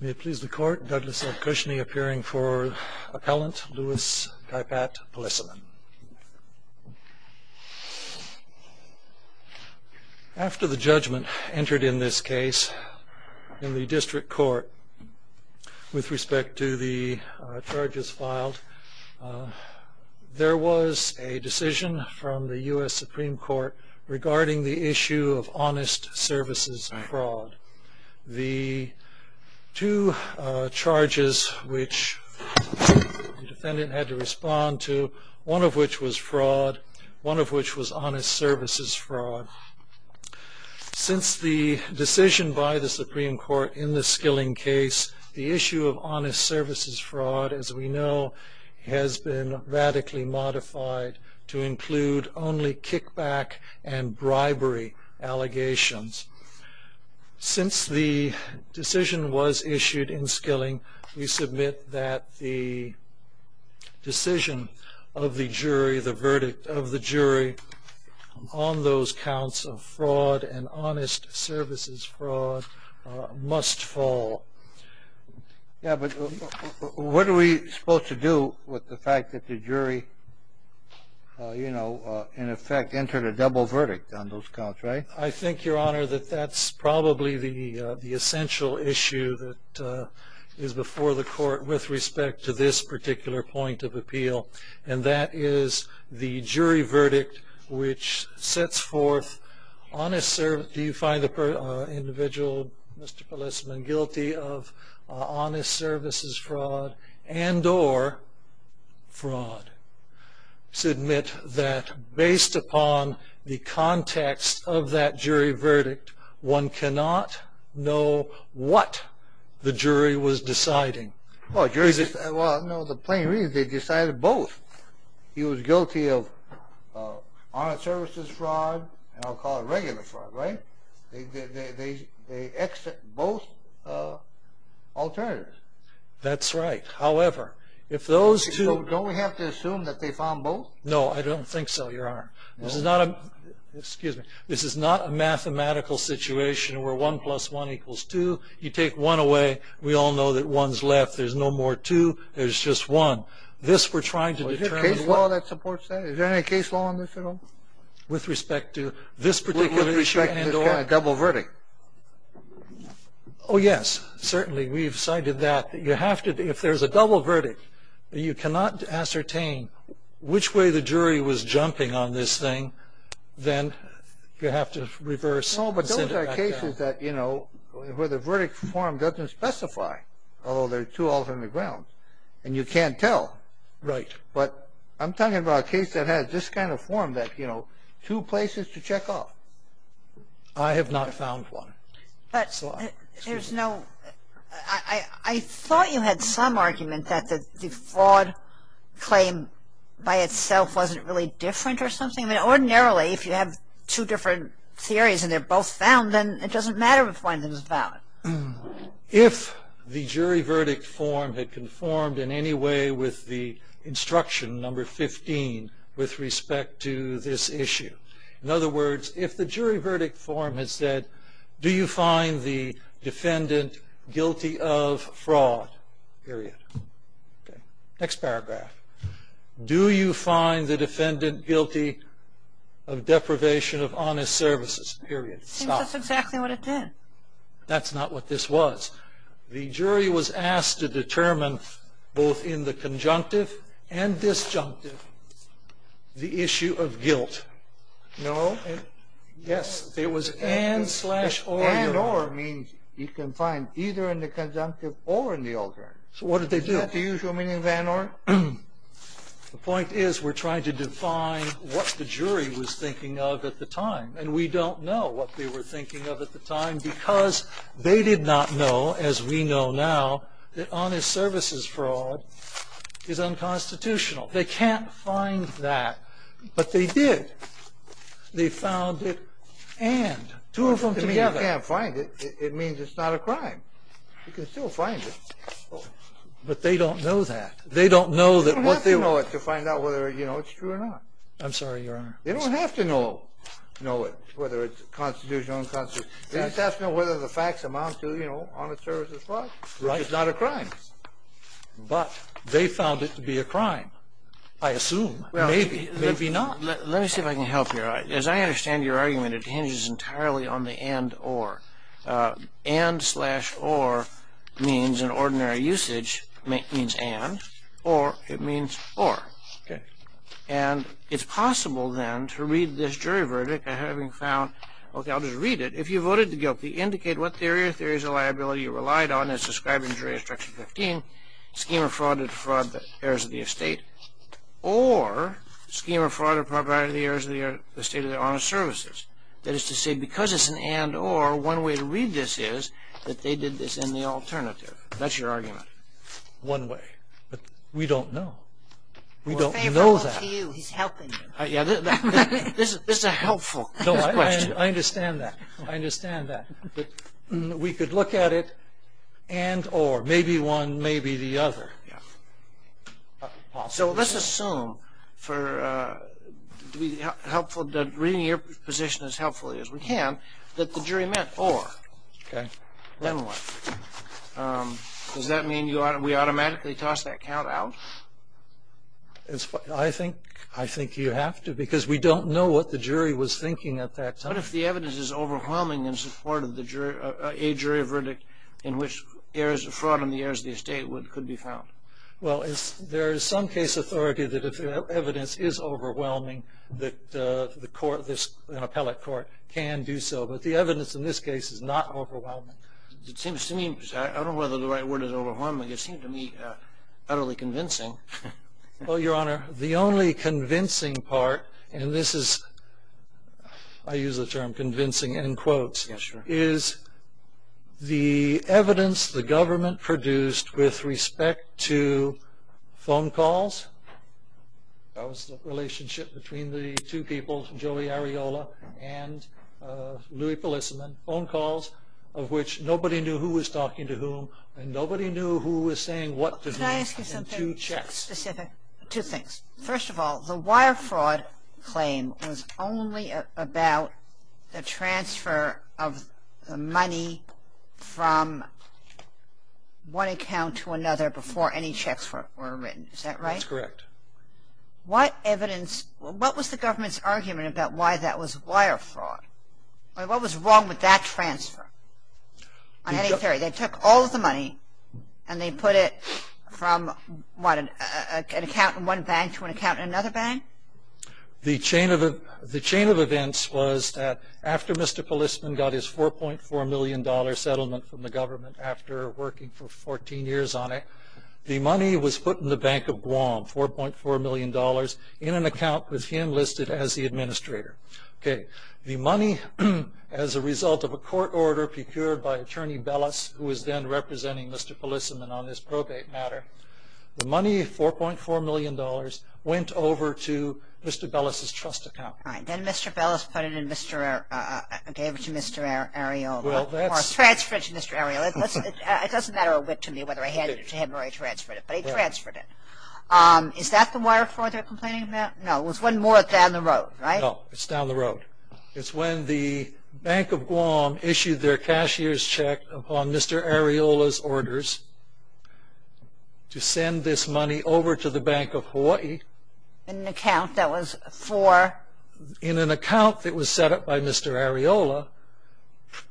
May it please the court, Douglas F. Cushney appearing for appellant, Luis Caipat Pelisamen. After the judgment entered in this case in the district court with respect to the charges filed, there was a decision from the U.S. Supreme Court regarding the issue of honest services fraud. The two charges which the defendant had to respond to, one of which was fraud, one of which was honest services fraud. Since the decision by the Supreme Court in the Skilling case, the issue of honest services fraud as we know has been radically modified to include only kickback and bribery allegations. Since the decision was issued in Skilling, we submit that the decision of the jury, the verdict of the jury on those counts of fraud and honest services fraud must fall. Yeah, but what are we supposed to do with the fact that the jury, you know, in effect entered a double verdict on those counts, right? I think, Your Honor, that that's probably the essential issue that is before the court with respect to this particular point of appeal. And that is the jury verdict which sets forth honest service. Do you find the individual, Mr. Pelisamen, guilty of honest services fraud and or fraud? I submit that based upon the context of that jury verdict, one cannot know what the jury was deciding. Well, the plain reason is they decided both. He was guilty of honest services fraud, and I'll call it regular fraud, right? They exited both alternatives. That's right. Don't we have to assume that they found both? No, I don't think so, Your Honor. This is not a mathematical situation where one plus one equals two. You take one away, we all know that one's left. There's no more two. There's just one. Is there any case law that supports that? Is there any case law on this at all? With respect to this particular issue? With respect to this kind of double verdict? Oh, yes, certainly. We've cited that. You have to, if there's a double verdict, you cannot ascertain which way the jury was jumping on this thing. Then you have to reverse. No, but those are cases that, you know, where the verdict form doesn't specify, although there are two alternate grounds, and you can't tell. Right. But I'm talking about a case that has this kind of form that, you know, two places to check off. I have not found one. But there's no – I thought you had some argument that the fraud claim by itself wasn't really different or something. I mean, ordinarily, if you have two different theories and they're both found, then it doesn't matter if one of them is valid. If the jury verdict form had conformed in any way with the instruction, number 15, with respect to this issue. In other words, if the jury verdict form had said, do you find the defendant guilty of fraud, period. Okay. Next paragraph. Do you find the defendant guilty of deprivation of honest services, period. Stop. Seems that's exactly what it did. That's not what this was. The jury was asked to determine, both in the conjunctive and disjunctive, the issue of guilt. No. Yes. It was and slash or. And or means you can find either in the conjunctive or in the alternate. So what did they do? Is that the usual meaning of and or? The point is we're trying to define what the jury was thinking of at the time. And we don't know what they were thinking of at the time because they did not know, as we know now, that honest services fraud is unconstitutional. They can't find that. But they did. They found it and. Two of them together. You can't find it. It means it's not a crime. You can still find it. But they don't know that. They don't know that. They don't have to know it to find out whether it's true or not. I'm sorry, Your Honor. They don't have to know it, whether it's constitutional or unconstitutional. They just have to know whether the facts amount to honest services fraud, which is not a crime. But they found it to be a crime. I assume. Maybe. Maybe not. Let me see if I can help you. As I understand your argument, it hinges entirely on the and or. And slash or means in ordinary usage means and. Or it means or. And it's possible then to read this jury verdict having found, okay, I'll just read it. If you voted guilty, indicate what theory or theories of liability you relied on as described in Jury Instruction 15, Schema of Fraud or Fraud of the Heirs of the Estate, or Schema of Fraud or Propriety of the Heirs of the Estate of the Honest Services. That is to say, because it's an and or, one way to read this is that they did this in the alternative. That's your argument. One way. But we don't know. We don't know that. We're faithful to you. He's helping you. This is a helpful question. I understand that. I understand that. But we could look at it and or. Maybe one, maybe the other. Yeah. So let's assume that reading your position as helpfully as we can that the jury meant or. Okay. Then what? Does that mean we automatically toss that count out? I think you have to because we don't know what the jury was thinking at that time. What if the evidence is overwhelming in support of a jury verdict in which Fraud on the Heirs of the Estate could be found? Well, there is some case authority that if the evidence is overwhelming, that an appellate court can do so. But the evidence in this case is not overwhelming. It seems to me, because I don't know whether the right word is overwhelming, it seems to me utterly convincing. Well, Your Honor, the only convincing part, and this is, I use the term convincing in quotes. Yes, Your Honor. Is the evidence the government produced with respect to phone calls. That was the relationship between the two people, Joey Areola and Louie Polissenman, phone calls of which nobody knew who was talking to whom and nobody knew who was saying what to whom in two checks. Can I ask you something specific? Two things. First of all, the wire fraud claim was only about the transfer of money from one account to another before any checks were written. Is that right? That's correct. What evidence, what was the government's argument about why that was wire fraud? What was wrong with that transfer? On any theory. They took all of the money and they put it from an account in one bank to an account in another bank? The chain of events was that after Mr. Polissenman got his $4.4 million settlement from the government after working for 14 years on it, the money was put in the Bank of Guam, $4.4 million, in an account with him listed as the administrator. Okay. The money, as a result of a court order procured by Attorney Bellis, who was then representing Mr. Polissenman on this probate matter, the money, $4.4 million, went over to Mr. Bellis' trust account. All right. Then Mr. Bellis put it in Mr. Areola, gave it to Mr. Areola, or transferred it to Mr. Areola. It doesn't matter to me whether I handed it to him or I transferred it, but he transferred it. Is that the wire fraud they're complaining about? No. There was one more down the road, right? No, it's down the road. It's when the Bank of Guam issued their cashier's check upon Mr. Areola's orders to send this money over to the Bank of Hawaii. In an account that was for? In an account that was set up by Mr. Areola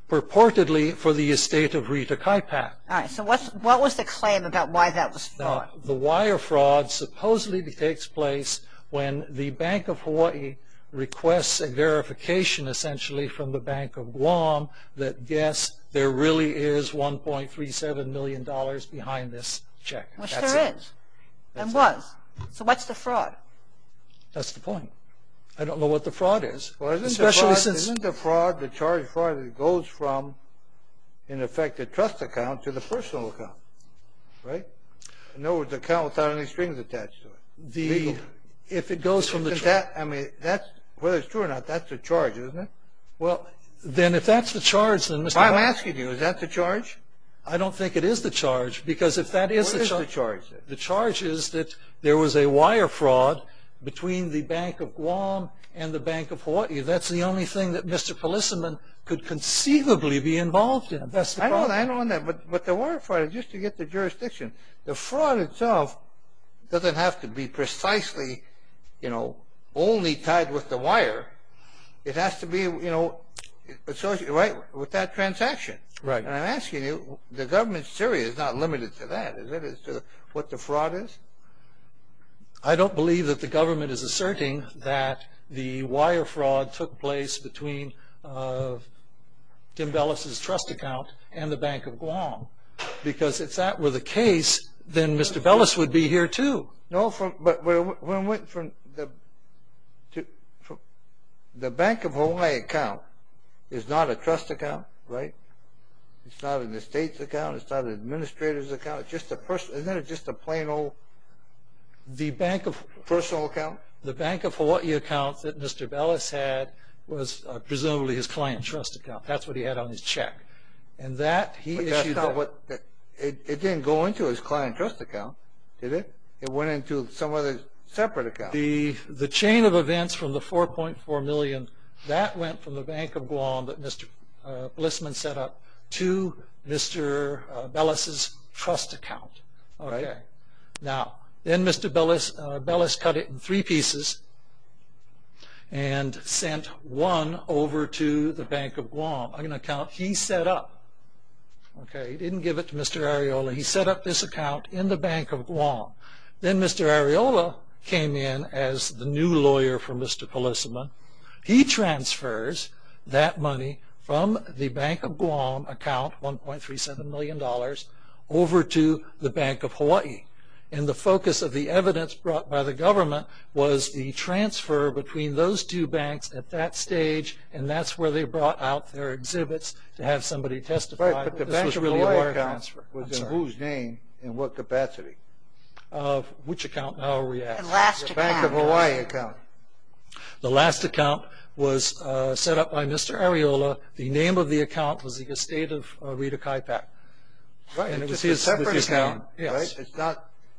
purportedly for the estate of Rita Kaipak. All right. So what was the claim about why that was fraud? The wire fraud supposedly takes place when the Bank of Hawaii requests a verification, essentially, from the Bank of Guam that, yes, there really is $1.37 million behind this check. Which there is and was. So what's the fraud? That's the point. I don't know what the fraud is. Well, isn't the fraud the charge fraud that goes from, in effect, the trust account to the personal account, right? No, it's an account without any strings attached to it. If it goes from the trust. I mean, whether it's true or not, that's the charge, isn't it? Well, then if that's the charge, then Mr. I'm asking you, is that the charge? I don't think it is the charge because if that is the charge. What is the charge then? The charge is that there was a wire fraud between the Bank of Guam and the Bank of Hawaii. That's the only thing that Mr. Polissenman could conceivably be involved in. That's the problem. I know that. But the wire fraud, just to get the jurisdiction, the fraud itself doesn't have to be precisely only tied with the wire. It has to be associated with that transaction. Right. And I'm asking you, the government's theory is not limited to that. Is it as to what the fraud is? I don't believe that the government is asserting that the wire fraud took place between Tim Bellis' trust account and the Bank of Guam because if that were the case, then Mr. Bellis would be here too. No, but the Bank of Hawaii account is not a trust account, right? It's not an estate's account. It's not an administrator's account. Isn't that just a plain old personal account? The Bank of Hawaii account that Mr. Bellis had was presumably his client trust account. That's what he had on his check. But that's not what – it didn't go into his client trust account, did it? It went into some other separate account. The chain of events from the $4.4 million, that went from the Bank of Guam that Mr. Polissenman set up to Mr. Bellis' trust account. Then Mr. Bellis cut it in three pieces and sent one over to the Bank of Guam, an account he set up. He didn't give it to Mr. Areola. He set up this account in the Bank of Guam. Then Mr. Areola came in as the new lawyer for Mr. Polissenman. He transfers that money from the Bank of Guam account, $1.37 million, over to the Bank of Hawaii. And the focus of the evidence brought by the government was the transfer between those two banks at that stage, and that's where they brought out their exhibits to have somebody testify. But the Bank of Hawaii account was in whose name and what capacity? Which account now are we at? The last account. The Bank of Hawaii account. The last account was set up by Mr. Areola. The name of the account was the estate of Rita Kaipak. It's a separate account, right?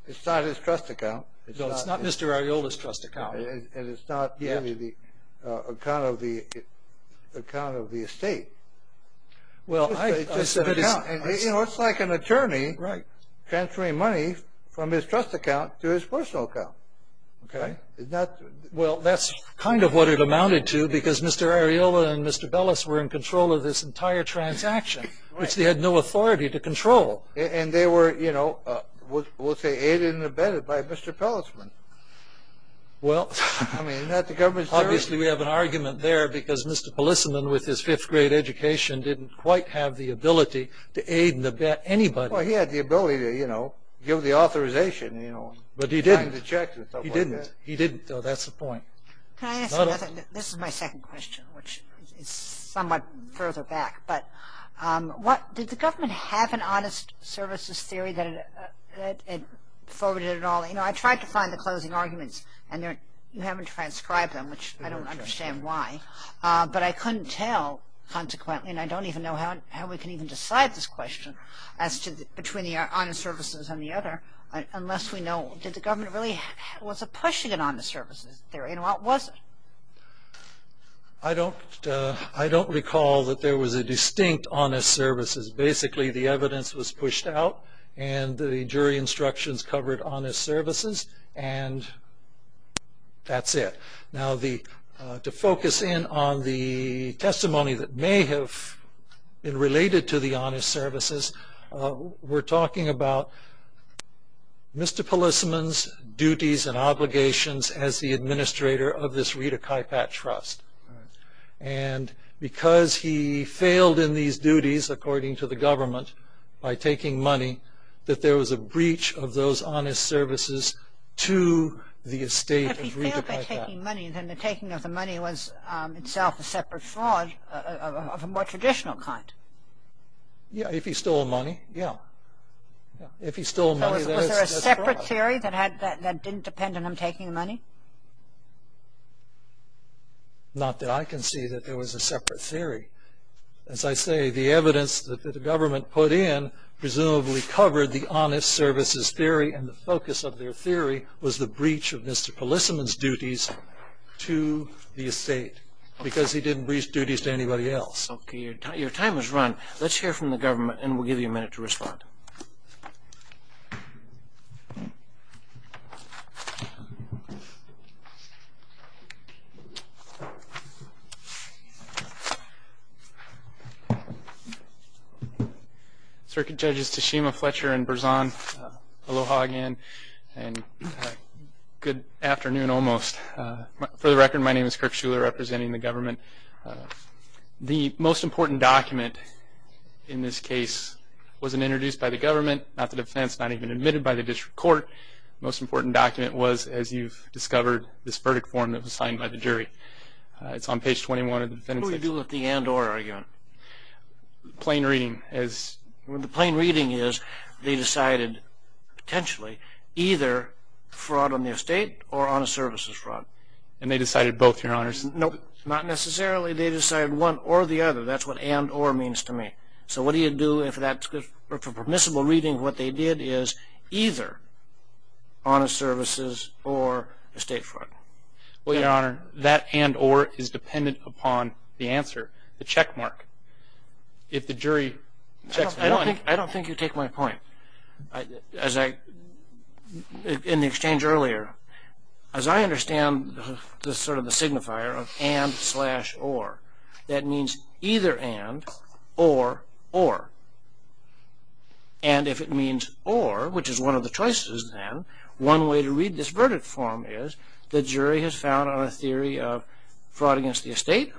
It's not his trust account. No, it's not Mr. Areola's trust account. And it's not the account of the estate. It's like an attorney transferring money from his trust account to his personal account. Well, that's kind of what it amounted to, because Mr. Areola and Mr. Bellis were in control of this entire transaction, which they had no authority to control. And they were, you know, we'll say aided and abetted by Mr. Polissenman. I mean, isn't that the government's duty? Obviously, we have an argument there, because Mr. Polissenman with his fifth-grade education didn't quite have the ability to aid and abet anybody. Well, he had the ability to, you know, give the authorization, you know. But he didn't. He didn't. He didn't, though. That's the point. Can I ask another? This is my second question, which is somewhat further back. Did the government have an honest services theory that it forwarded it all? You know, I tried to find the closing arguments, and you haven't transcribed them, which I don't understand why. But I couldn't tell, consequently, and I don't even know how we can even decide this question as to between the honest services and the other unless we know, did the government really, was it pushing an honest services theory, and what was it? I don't recall that there was a distinct honest services. Basically, the evidence was pushed out, and the jury instructions covered honest services, and that's it. Now, to focus in on the testimony that may have been related to the honest services, we're talking about Mr. Polissman's duties and obligations as the administrator of this Rita Kaipat Trust. And because he failed in these duties, according to the government, by taking money, that there was a breach of those honest services to the estate of Rita Kaipat. If he failed by taking money, then the taking of the money was itself a separate fraud of a more traditional kind. Yeah, if he stole money, yeah. If he stole money, that's fraud. Was there a separate theory that didn't depend on him taking the money? Not that I can see that there was a separate theory. As I say, the evidence that the government put in presumably covered the honest services theory, and the focus of their theory was the breach of Mr. Polissman's duties to the estate because he didn't breach duties to anybody else. Okay, your time has run. Let's hear from the government, and we'll give you a minute to respond. Circuit Judges Tashima, Fletcher, and Berzon, aloha again, and good afternoon almost. For the record, my name is Kirk Schuler, representing the government. The most important document in this case wasn't introduced by the government, not the defense, not even admitted by the district court. The most important document was, as you've discovered, this verdict form that was signed by the jury. It's on page 21 of the defendant's... What do we do with the and-or argument? Plain reading, as... The plain reading is they decided, potentially, either fraud on the estate or honest services fraud. And they decided both, your honors? Nope. Not necessarily they decided one or the other. That's what and-or means to me. So what do you do if that's permissible reading? What they did is either honest services or estate fraud. Well, your honor, that and-or is dependent upon the answer, the checkmark. If the jury checks... I don't think you take my point. As I... In the exchange earlier, as I understand sort of the signifier of and-slash-or, that means either and or or. And if it means or, which is one of the choices then, one way to read this verdict form is the jury has found on a theory of fraud against the estate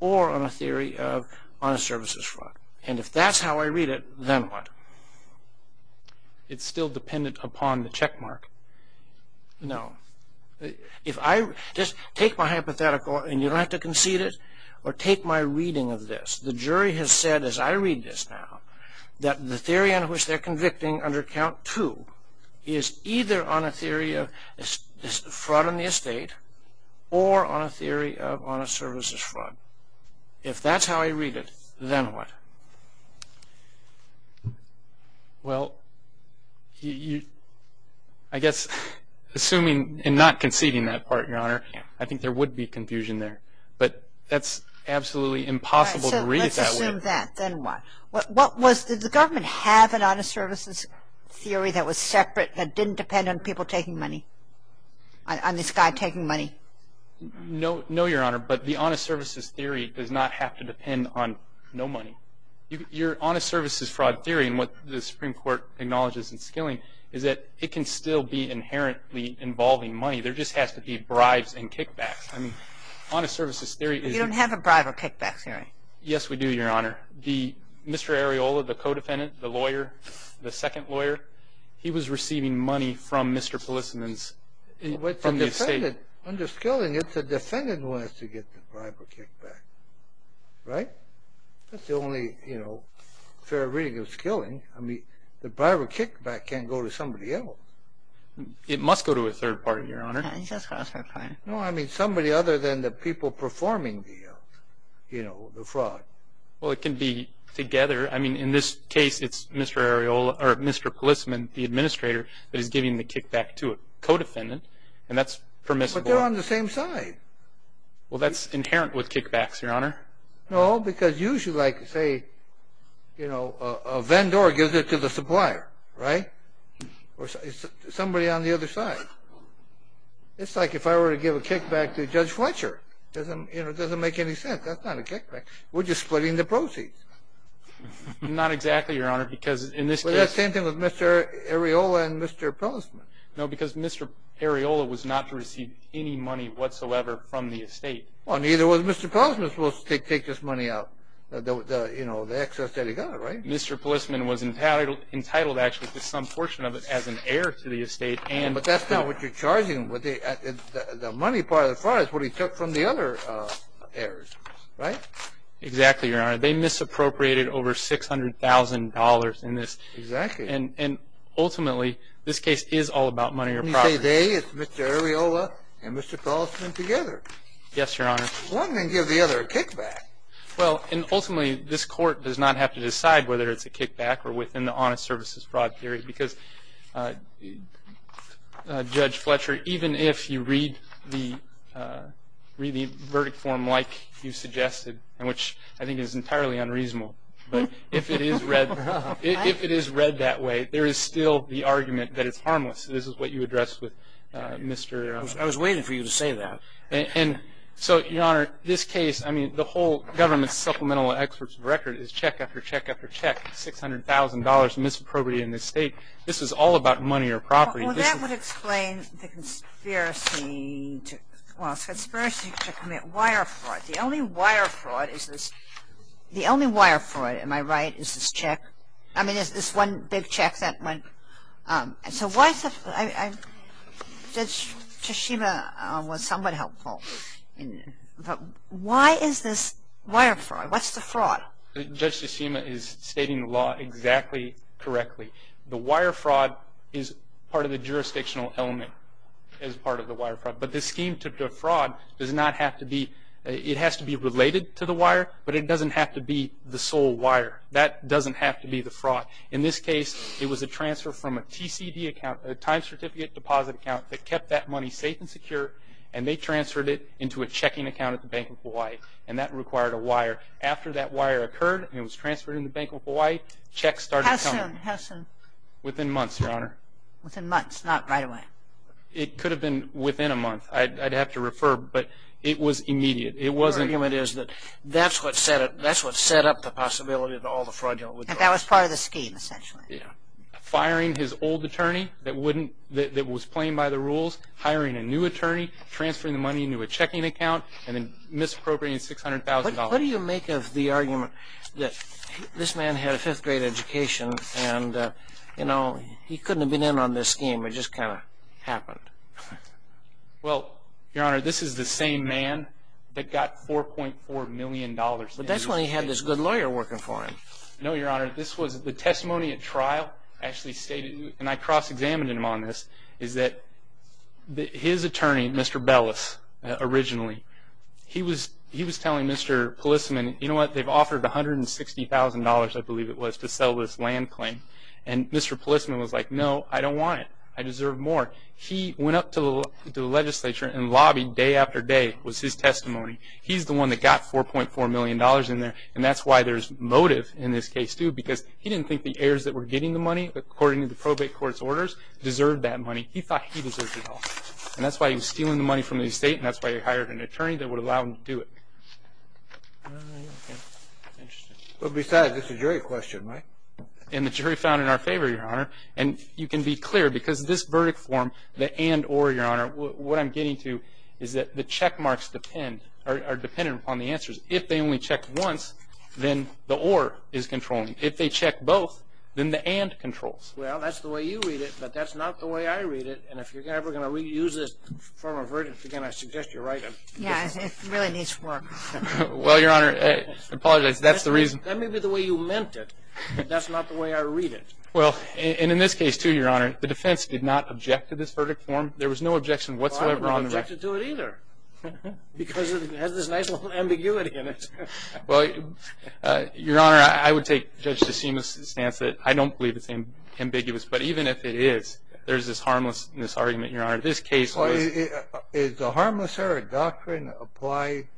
or on a theory of honest services fraud. And if that's how I read it, then what? It's still dependent upon the checkmark. No. If I... Just take my hypothetical, and you don't have to concede it, or take my reading of this. The jury has said, as I read this now, that the theory on which they're convicting under count two is either on a theory of fraud on the estate or on a theory of honest services fraud. If that's how I read it, then what? Well, you... I guess, assuming and not conceding that part, Your Honor, I think there would be confusion there. But that's absolutely impossible to read it that way. All right, so let's assume that, then what? What was... Did the government have an honest services theory that was separate that didn't depend on people taking money, on this guy taking money? No, Your Honor. But the honest services theory does not have to depend on no money. Your honest services fraud theory, and what the Supreme Court acknowledges in Skilling, is that it can still be inherently involving money. There just has to be bribes and kickbacks. I mean, honest services theory is... You don't have a bribe or kickback theory. Yes, we do, Your Honor. Mr. Areola, the co-defendant, the lawyer, the second lawyer, he was receiving money from Mr. Polissenin's estate. I mean, under Skilling, it's the defendant who has to get the bribe or kickback. Right? That's the only fair reading of Skilling. I mean, the bribe or kickback can't go to somebody else. It must go to a third party, Your Honor. Yeah, it's got to go to a third party. No, I mean somebody other than the people performing the fraud. Well, it can be together. I mean, in this case, it's Mr. Polissenin, the administrator, that is giving the kickback to a co-defendant, and that's permissible. But they're on the same side. Well, that's inherent with kickbacks, Your Honor. No, because usually, like, say, you know, a vendor gives it to the supplier, right? Or somebody on the other side. It's like if I were to give a kickback to Judge Fletcher. It doesn't make any sense. That's not a kickback. We're just splitting the proceeds. Not exactly, Your Honor, because in this case... Well, that's the same thing with Mr. Areola and Mr. Polissenin. No, because Mr. Areola was not to receive any money whatsoever from the estate. Well, neither was Mr. Polissenin supposed to take this money out, you know, the excess that he got, right? Mr. Polissenin was entitled, actually, to some portion of it as an heir to the estate. But that's not what you're charging. The money part of the fraud is what he took from the other heirs, right? Exactly, Your Honor. They misappropriated over $600,000 in this. Exactly. And ultimately, this case is all about money or property. You say they, it's Mr. Areola and Mr. Polissenin together. Yes, Your Honor. One can give the other a kickback. Well, and ultimately, this court does not have to decide whether it's a kickback or within the honest services fraud theory, because, Judge Fletcher, even if you read the verdict form like you suggested, which I think is entirely unreasonable, but if it is read that way, there is still the argument that it's harmless. This is what you addressed with Mr. Areola. I was waiting for you to say that. And so, Your Honor, this case, I mean, the whole government supplemental experts record is check after check after check, $600,000 misappropriated in this estate. This is all about money or property. Well, that would explain the conspiracy to, well, conspiracy to commit wire fraud. The only wire fraud is this. The only wire fraud, am I right, is this check. I mean, is this one big check that went. And so, why is it, Judge Tsushima was somewhat helpful. Why is this wire fraud? What's the fraud? Judge Tsushima is stating the law exactly correctly. The wire fraud is part of the jurisdictional element as part of the wire fraud. But this scheme to defraud does not have to be, it has to be related to the wire, but it doesn't have to be the sole wire. That doesn't have to be the fraud. In this case, it was a transfer from a TCD account, a time certificate deposit account that kept that money safe and secure, and they transferred it into a checking account at the Bank of Hawaii, and that required a wire. After that wire occurred and it was transferred into the Bank of Hawaii, checks started coming. How soon? Within months, Your Honor. Within months, not right away? It could have been within a month. I'd have to refer, but it was immediate. Your argument is that that's what set up the possibility of all the fraudulent withdrawals. That was part of the scheme, essentially. Yeah. Firing his old attorney that was playing by the rules, hiring a new attorney, transferring the money into a checking account, and then misappropriating $600,000. What do you make of the argument that this man had a fifth-grade education and he couldn't have been in on this scheme. It just kind of happened. Well, Your Honor, this is the same man that got $4.4 million. But that's when he had this good lawyer working for him. No, Your Honor. The testimony at trial actually stated, and I cross-examined him on this, is that his attorney, Mr. Bellis, originally, he was telling Mr. Polissman, you know what, they've offered $160,000, I believe it was, to sell this land claim. And Mr. Polissman was like, no, I don't want it. I deserve more. He went up to the legislature and lobbied day after day was his testimony. He's the one that got $4.4 million in there. And that's why there's motive in this case, too, because he didn't think the heirs that were getting the money, according to the probate court's orders, deserved that money. He thought he deserved it all. And that's why he was stealing the money from the estate, and that's why he hired an attorney that would allow him to do it. Well, besides, this is a jury question, right? And the jury found in our favor, Your Honor. And you can be clear, because this verdict form, the and or, Your Honor, what I'm getting to is that the check marks depend, are dependent upon the answers. If they only check once, then the or is controlling. If they check both, then the and controls. Well, that's the way you read it, but that's not the way I read it. And if you're ever going to reuse this form of verdict, again, I suggest you write it. Yeah, it really needs work. Well, Your Honor, I apologize. That's the reason. That may be the way you meant it, but that's not the way I read it. Well, and in this case, too, Your Honor, the defense did not object to this verdict form. There was no objection whatsoever on the record. Well, I don't object to it either because it has this nice little ambiguity in it. Well, Your Honor, I would take Judge DeSima's stance that I don't believe it's ambiguous. But even if it is, there's this harmlessness argument, Your Honor. This case was. Well, is the harmless error doctrine applied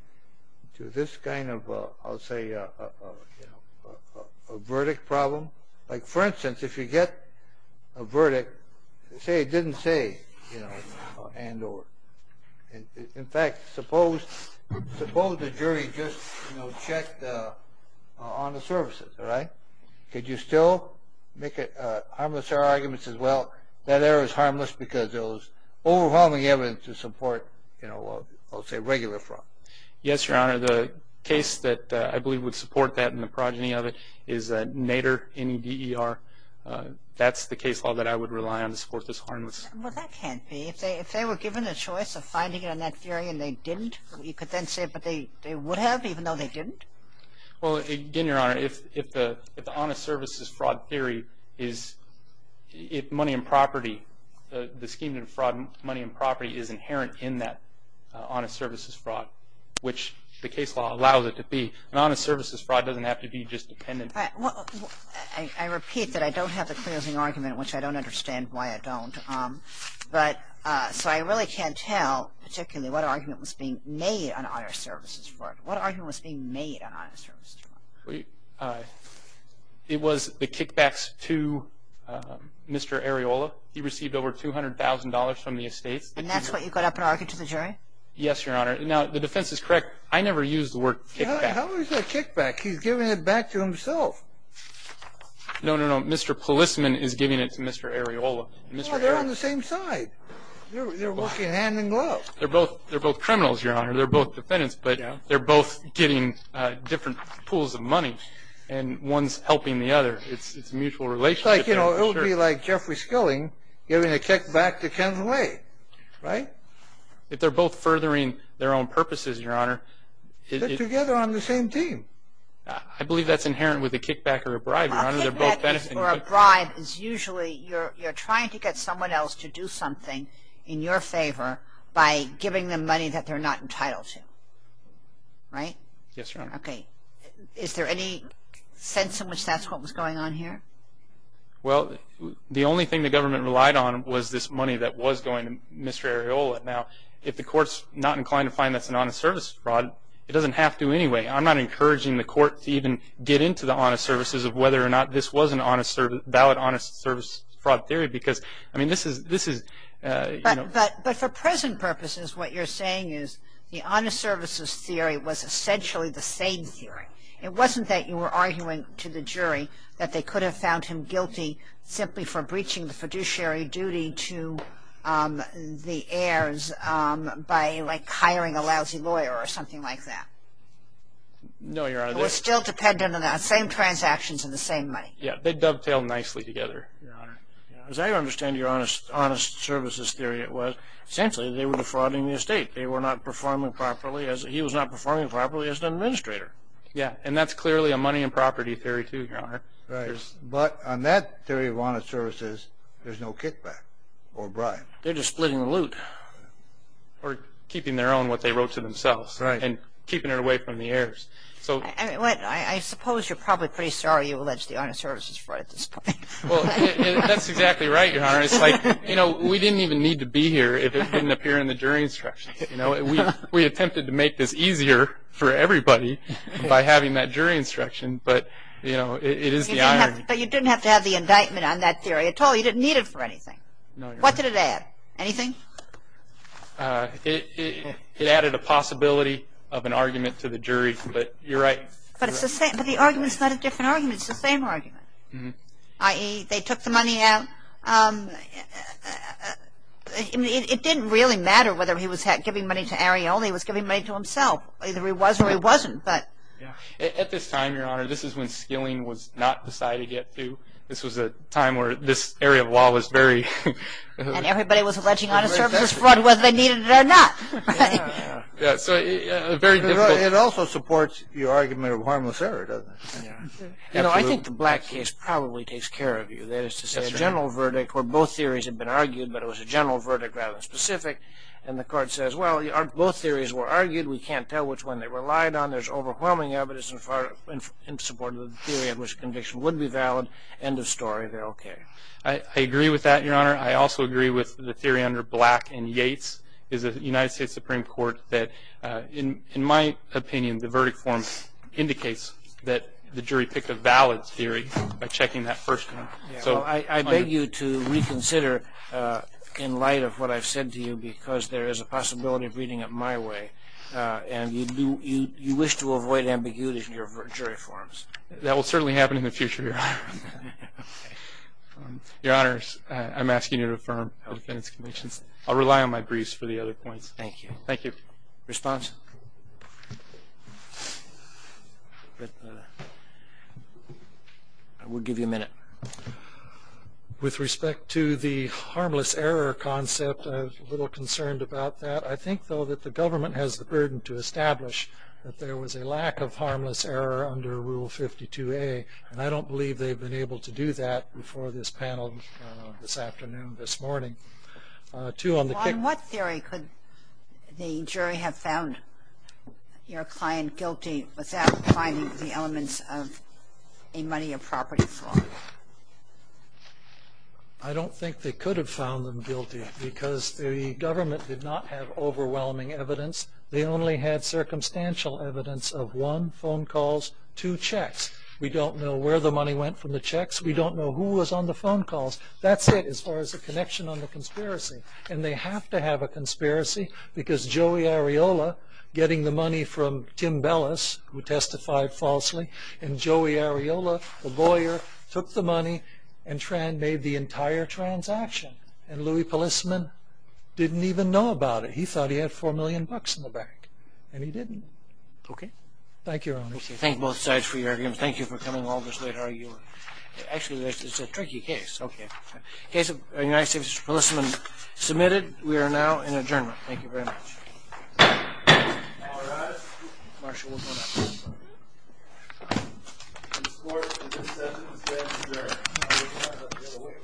to this kind of, I'll say, a verdict problem? Like, for instance, if you get a verdict, say it didn't say, you know, and or. In fact, suppose the jury just, you know, checked on the services, right? Could you still make it harmless error arguments as well? That error is harmless because it was overwhelming evidence to support, you know, I'll say regular fraud. Yes, Your Honor. The case that I believe would support that and the progeny of it is Nader, N-E-D-E-R. That's the case law that I would rely on to support this harmless. Well, that can't be. If they were given a choice of finding it on that theory and they didn't, you could then say, but they would have even though they didn't? Well, again, Your Honor, if the honest services fraud theory is, if money and property, the scheme to fraud money and property is inherent in that honest services fraud, which the case law allows it to be, an honest services fraud doesn't have to be just dependent. I repeat that I don't have the closing argument, which I don't understand why I don't. But, so I really can't tell particularly what argument was being made on honest services fraud. What argument was being made on honest services fraud? It was the kickbacks to Mr. Areola. He received over $200,000 from the estates. And that's what you got up and argued to the jury? Yes, Your Honor. Now, the defense is correct. I never used the word kickback. How is that kickback? He's giving it back to himself. No, no, no. Mr. Policeman is giving it to Mr. Areola. They're working hand in glove. They're both criminals, Your Honor. They're both defendants, but they're both getting different pools of money, and one's helping the other. It's a mutual relationship. It's like, you know, it would be like Jeffrey Skilling giving a kickback to Kenway, right? If they're both furthering their own purposes, Your Honor. They're together on the same team. I believe that's inherent with a kickback or a bribe, Your Honor. A kickback or a bribe is usually you're trying to get someone else to do something in your favor by giving them money that they're not entitled to, right? Yes, Your Honor. Okay. Is there any sense in which that's what was going on here? Well, the only thing the government relied on was this money that was going to Mr. Areola. Now, if the court's not inclined to find that's an honest service fraud, it doesn't have to anyway. I'm not encouraging the court to even get into the honest services of whether or not this was a valid honest service fraud theory because, I mean, this is, you know. But for present purposes, what you're saying is the honest services theory was essentially the same theory. It wasn't that you were arguing to the jury that they could have found him guilty simply for breaching the fiduciary duty to the heirs by, like, hiring a lousy lawyer or something like that. No, Your Honor. It was still dependent on the same transactions and the same money. As I understand your honest services theory, it was essentially they were defrauding the estate. They were not performing properly. He was not performing properly as an administrator. Yeah, and that's clearly a money and property theory, too, Your Honor. Right. But on that theory of honest services, there's no kickback or bribe. They're just splitting the loot or keeping their own what they wrote to themselves. Right. And keeping it away from the heirs. I suppose you're probably pretty sorry you allege the honest services fraud at this point. Well, that's exactly right, Your Honor. It's like, you know, we didn't even need to be here if it didn't appear in the jury instructions. You know, we attempted to make this easier for everybody by having that jury instruction, but, you know, it is the irony. But you didn't have to have the indictment on that theory at all. You didn't need it for anything. No, Your Honor. What did it add? Anything? It added a possibility of an argument to the jury, but you're right. But the argument's not a different argument. It's the same argument. Mm-hmm. I.e., they took the money out. It didn't really matter whether he was giving money to Arione or he was giving money to himself. Either he was or he wasn't, but... At this time, Your Honor, this is when skilling was not decided yet, too. This was a time where this area of law was very... And everybody was alleging honest services fraud whether they needed it or not. Yeah, yeah. So, very difficult... It also supports your argument of harmless error, doesn't it? Yeah. You know, I think the Black case probably takes care of you. That is to say, a general verdict where both theories have been argued, but it was a general verdict rather than specific. And the court says, well, both theories were argued. We can't tell which one they relied on. There's overwhelming evidence in support of the theory of which conviction would be valid. End of story. They're okay. I agree with that, Your Honor. I also agree with the theory under Black and Yates. This is a United States Supreme Court that, in my opinion, the verdict form indicates that the jury picked a valid theory by checking that first one. I beg you to reconsider in light of what I've said to you because there is a possibility of reading it my way. And you wish to avoid ambiguity in your jury forms. That will certainly happen in the future, Your Honor. Your Honors, I'm asking you to affirm the defense convictions. I'll rely on my briefs for the other points. Thank you. Thank you. Response? We'll give you a minute. With respect to the harmless error concept, I'm a little concerned about that. I think, though, that the government has the burden to establish that there was a lack of harmless error under Rule 52A, and I don't believe they've been able to do that before this panel this afternoon, this morning. On what theory could the jury have found your client guilty without finding the elements of a money or property fraud? I don't think they could have found them guilty because the government did not have overwhelming evidence. They only had circumstantial evidence of, one, phone calls, two, checks. We don't know where the money went from the checks. We don't know who was on the phone calls. That's it as far as the connection on the conspiracy. And they have to have a conspiracy because Joey Areola, getting the money from Tim Bellis, who testified falsely, and Joey Areola, the lawyer, took the money and made the entire transaction. And Louie Polisman didn't even know about it. He thought he had $4 million in the bank, and he didn't. Okay. Thank you, Your Honors. Thank you both sides for your arguments. Thank you for coming all this way to argue. Actually, this is a tricky case. Okay. Case of United States, Mr. Polisman, submitted. We are now in adjournment. Thank you very much. All rise. Marshal, we'll go now. This Court in this session is here to adjourn.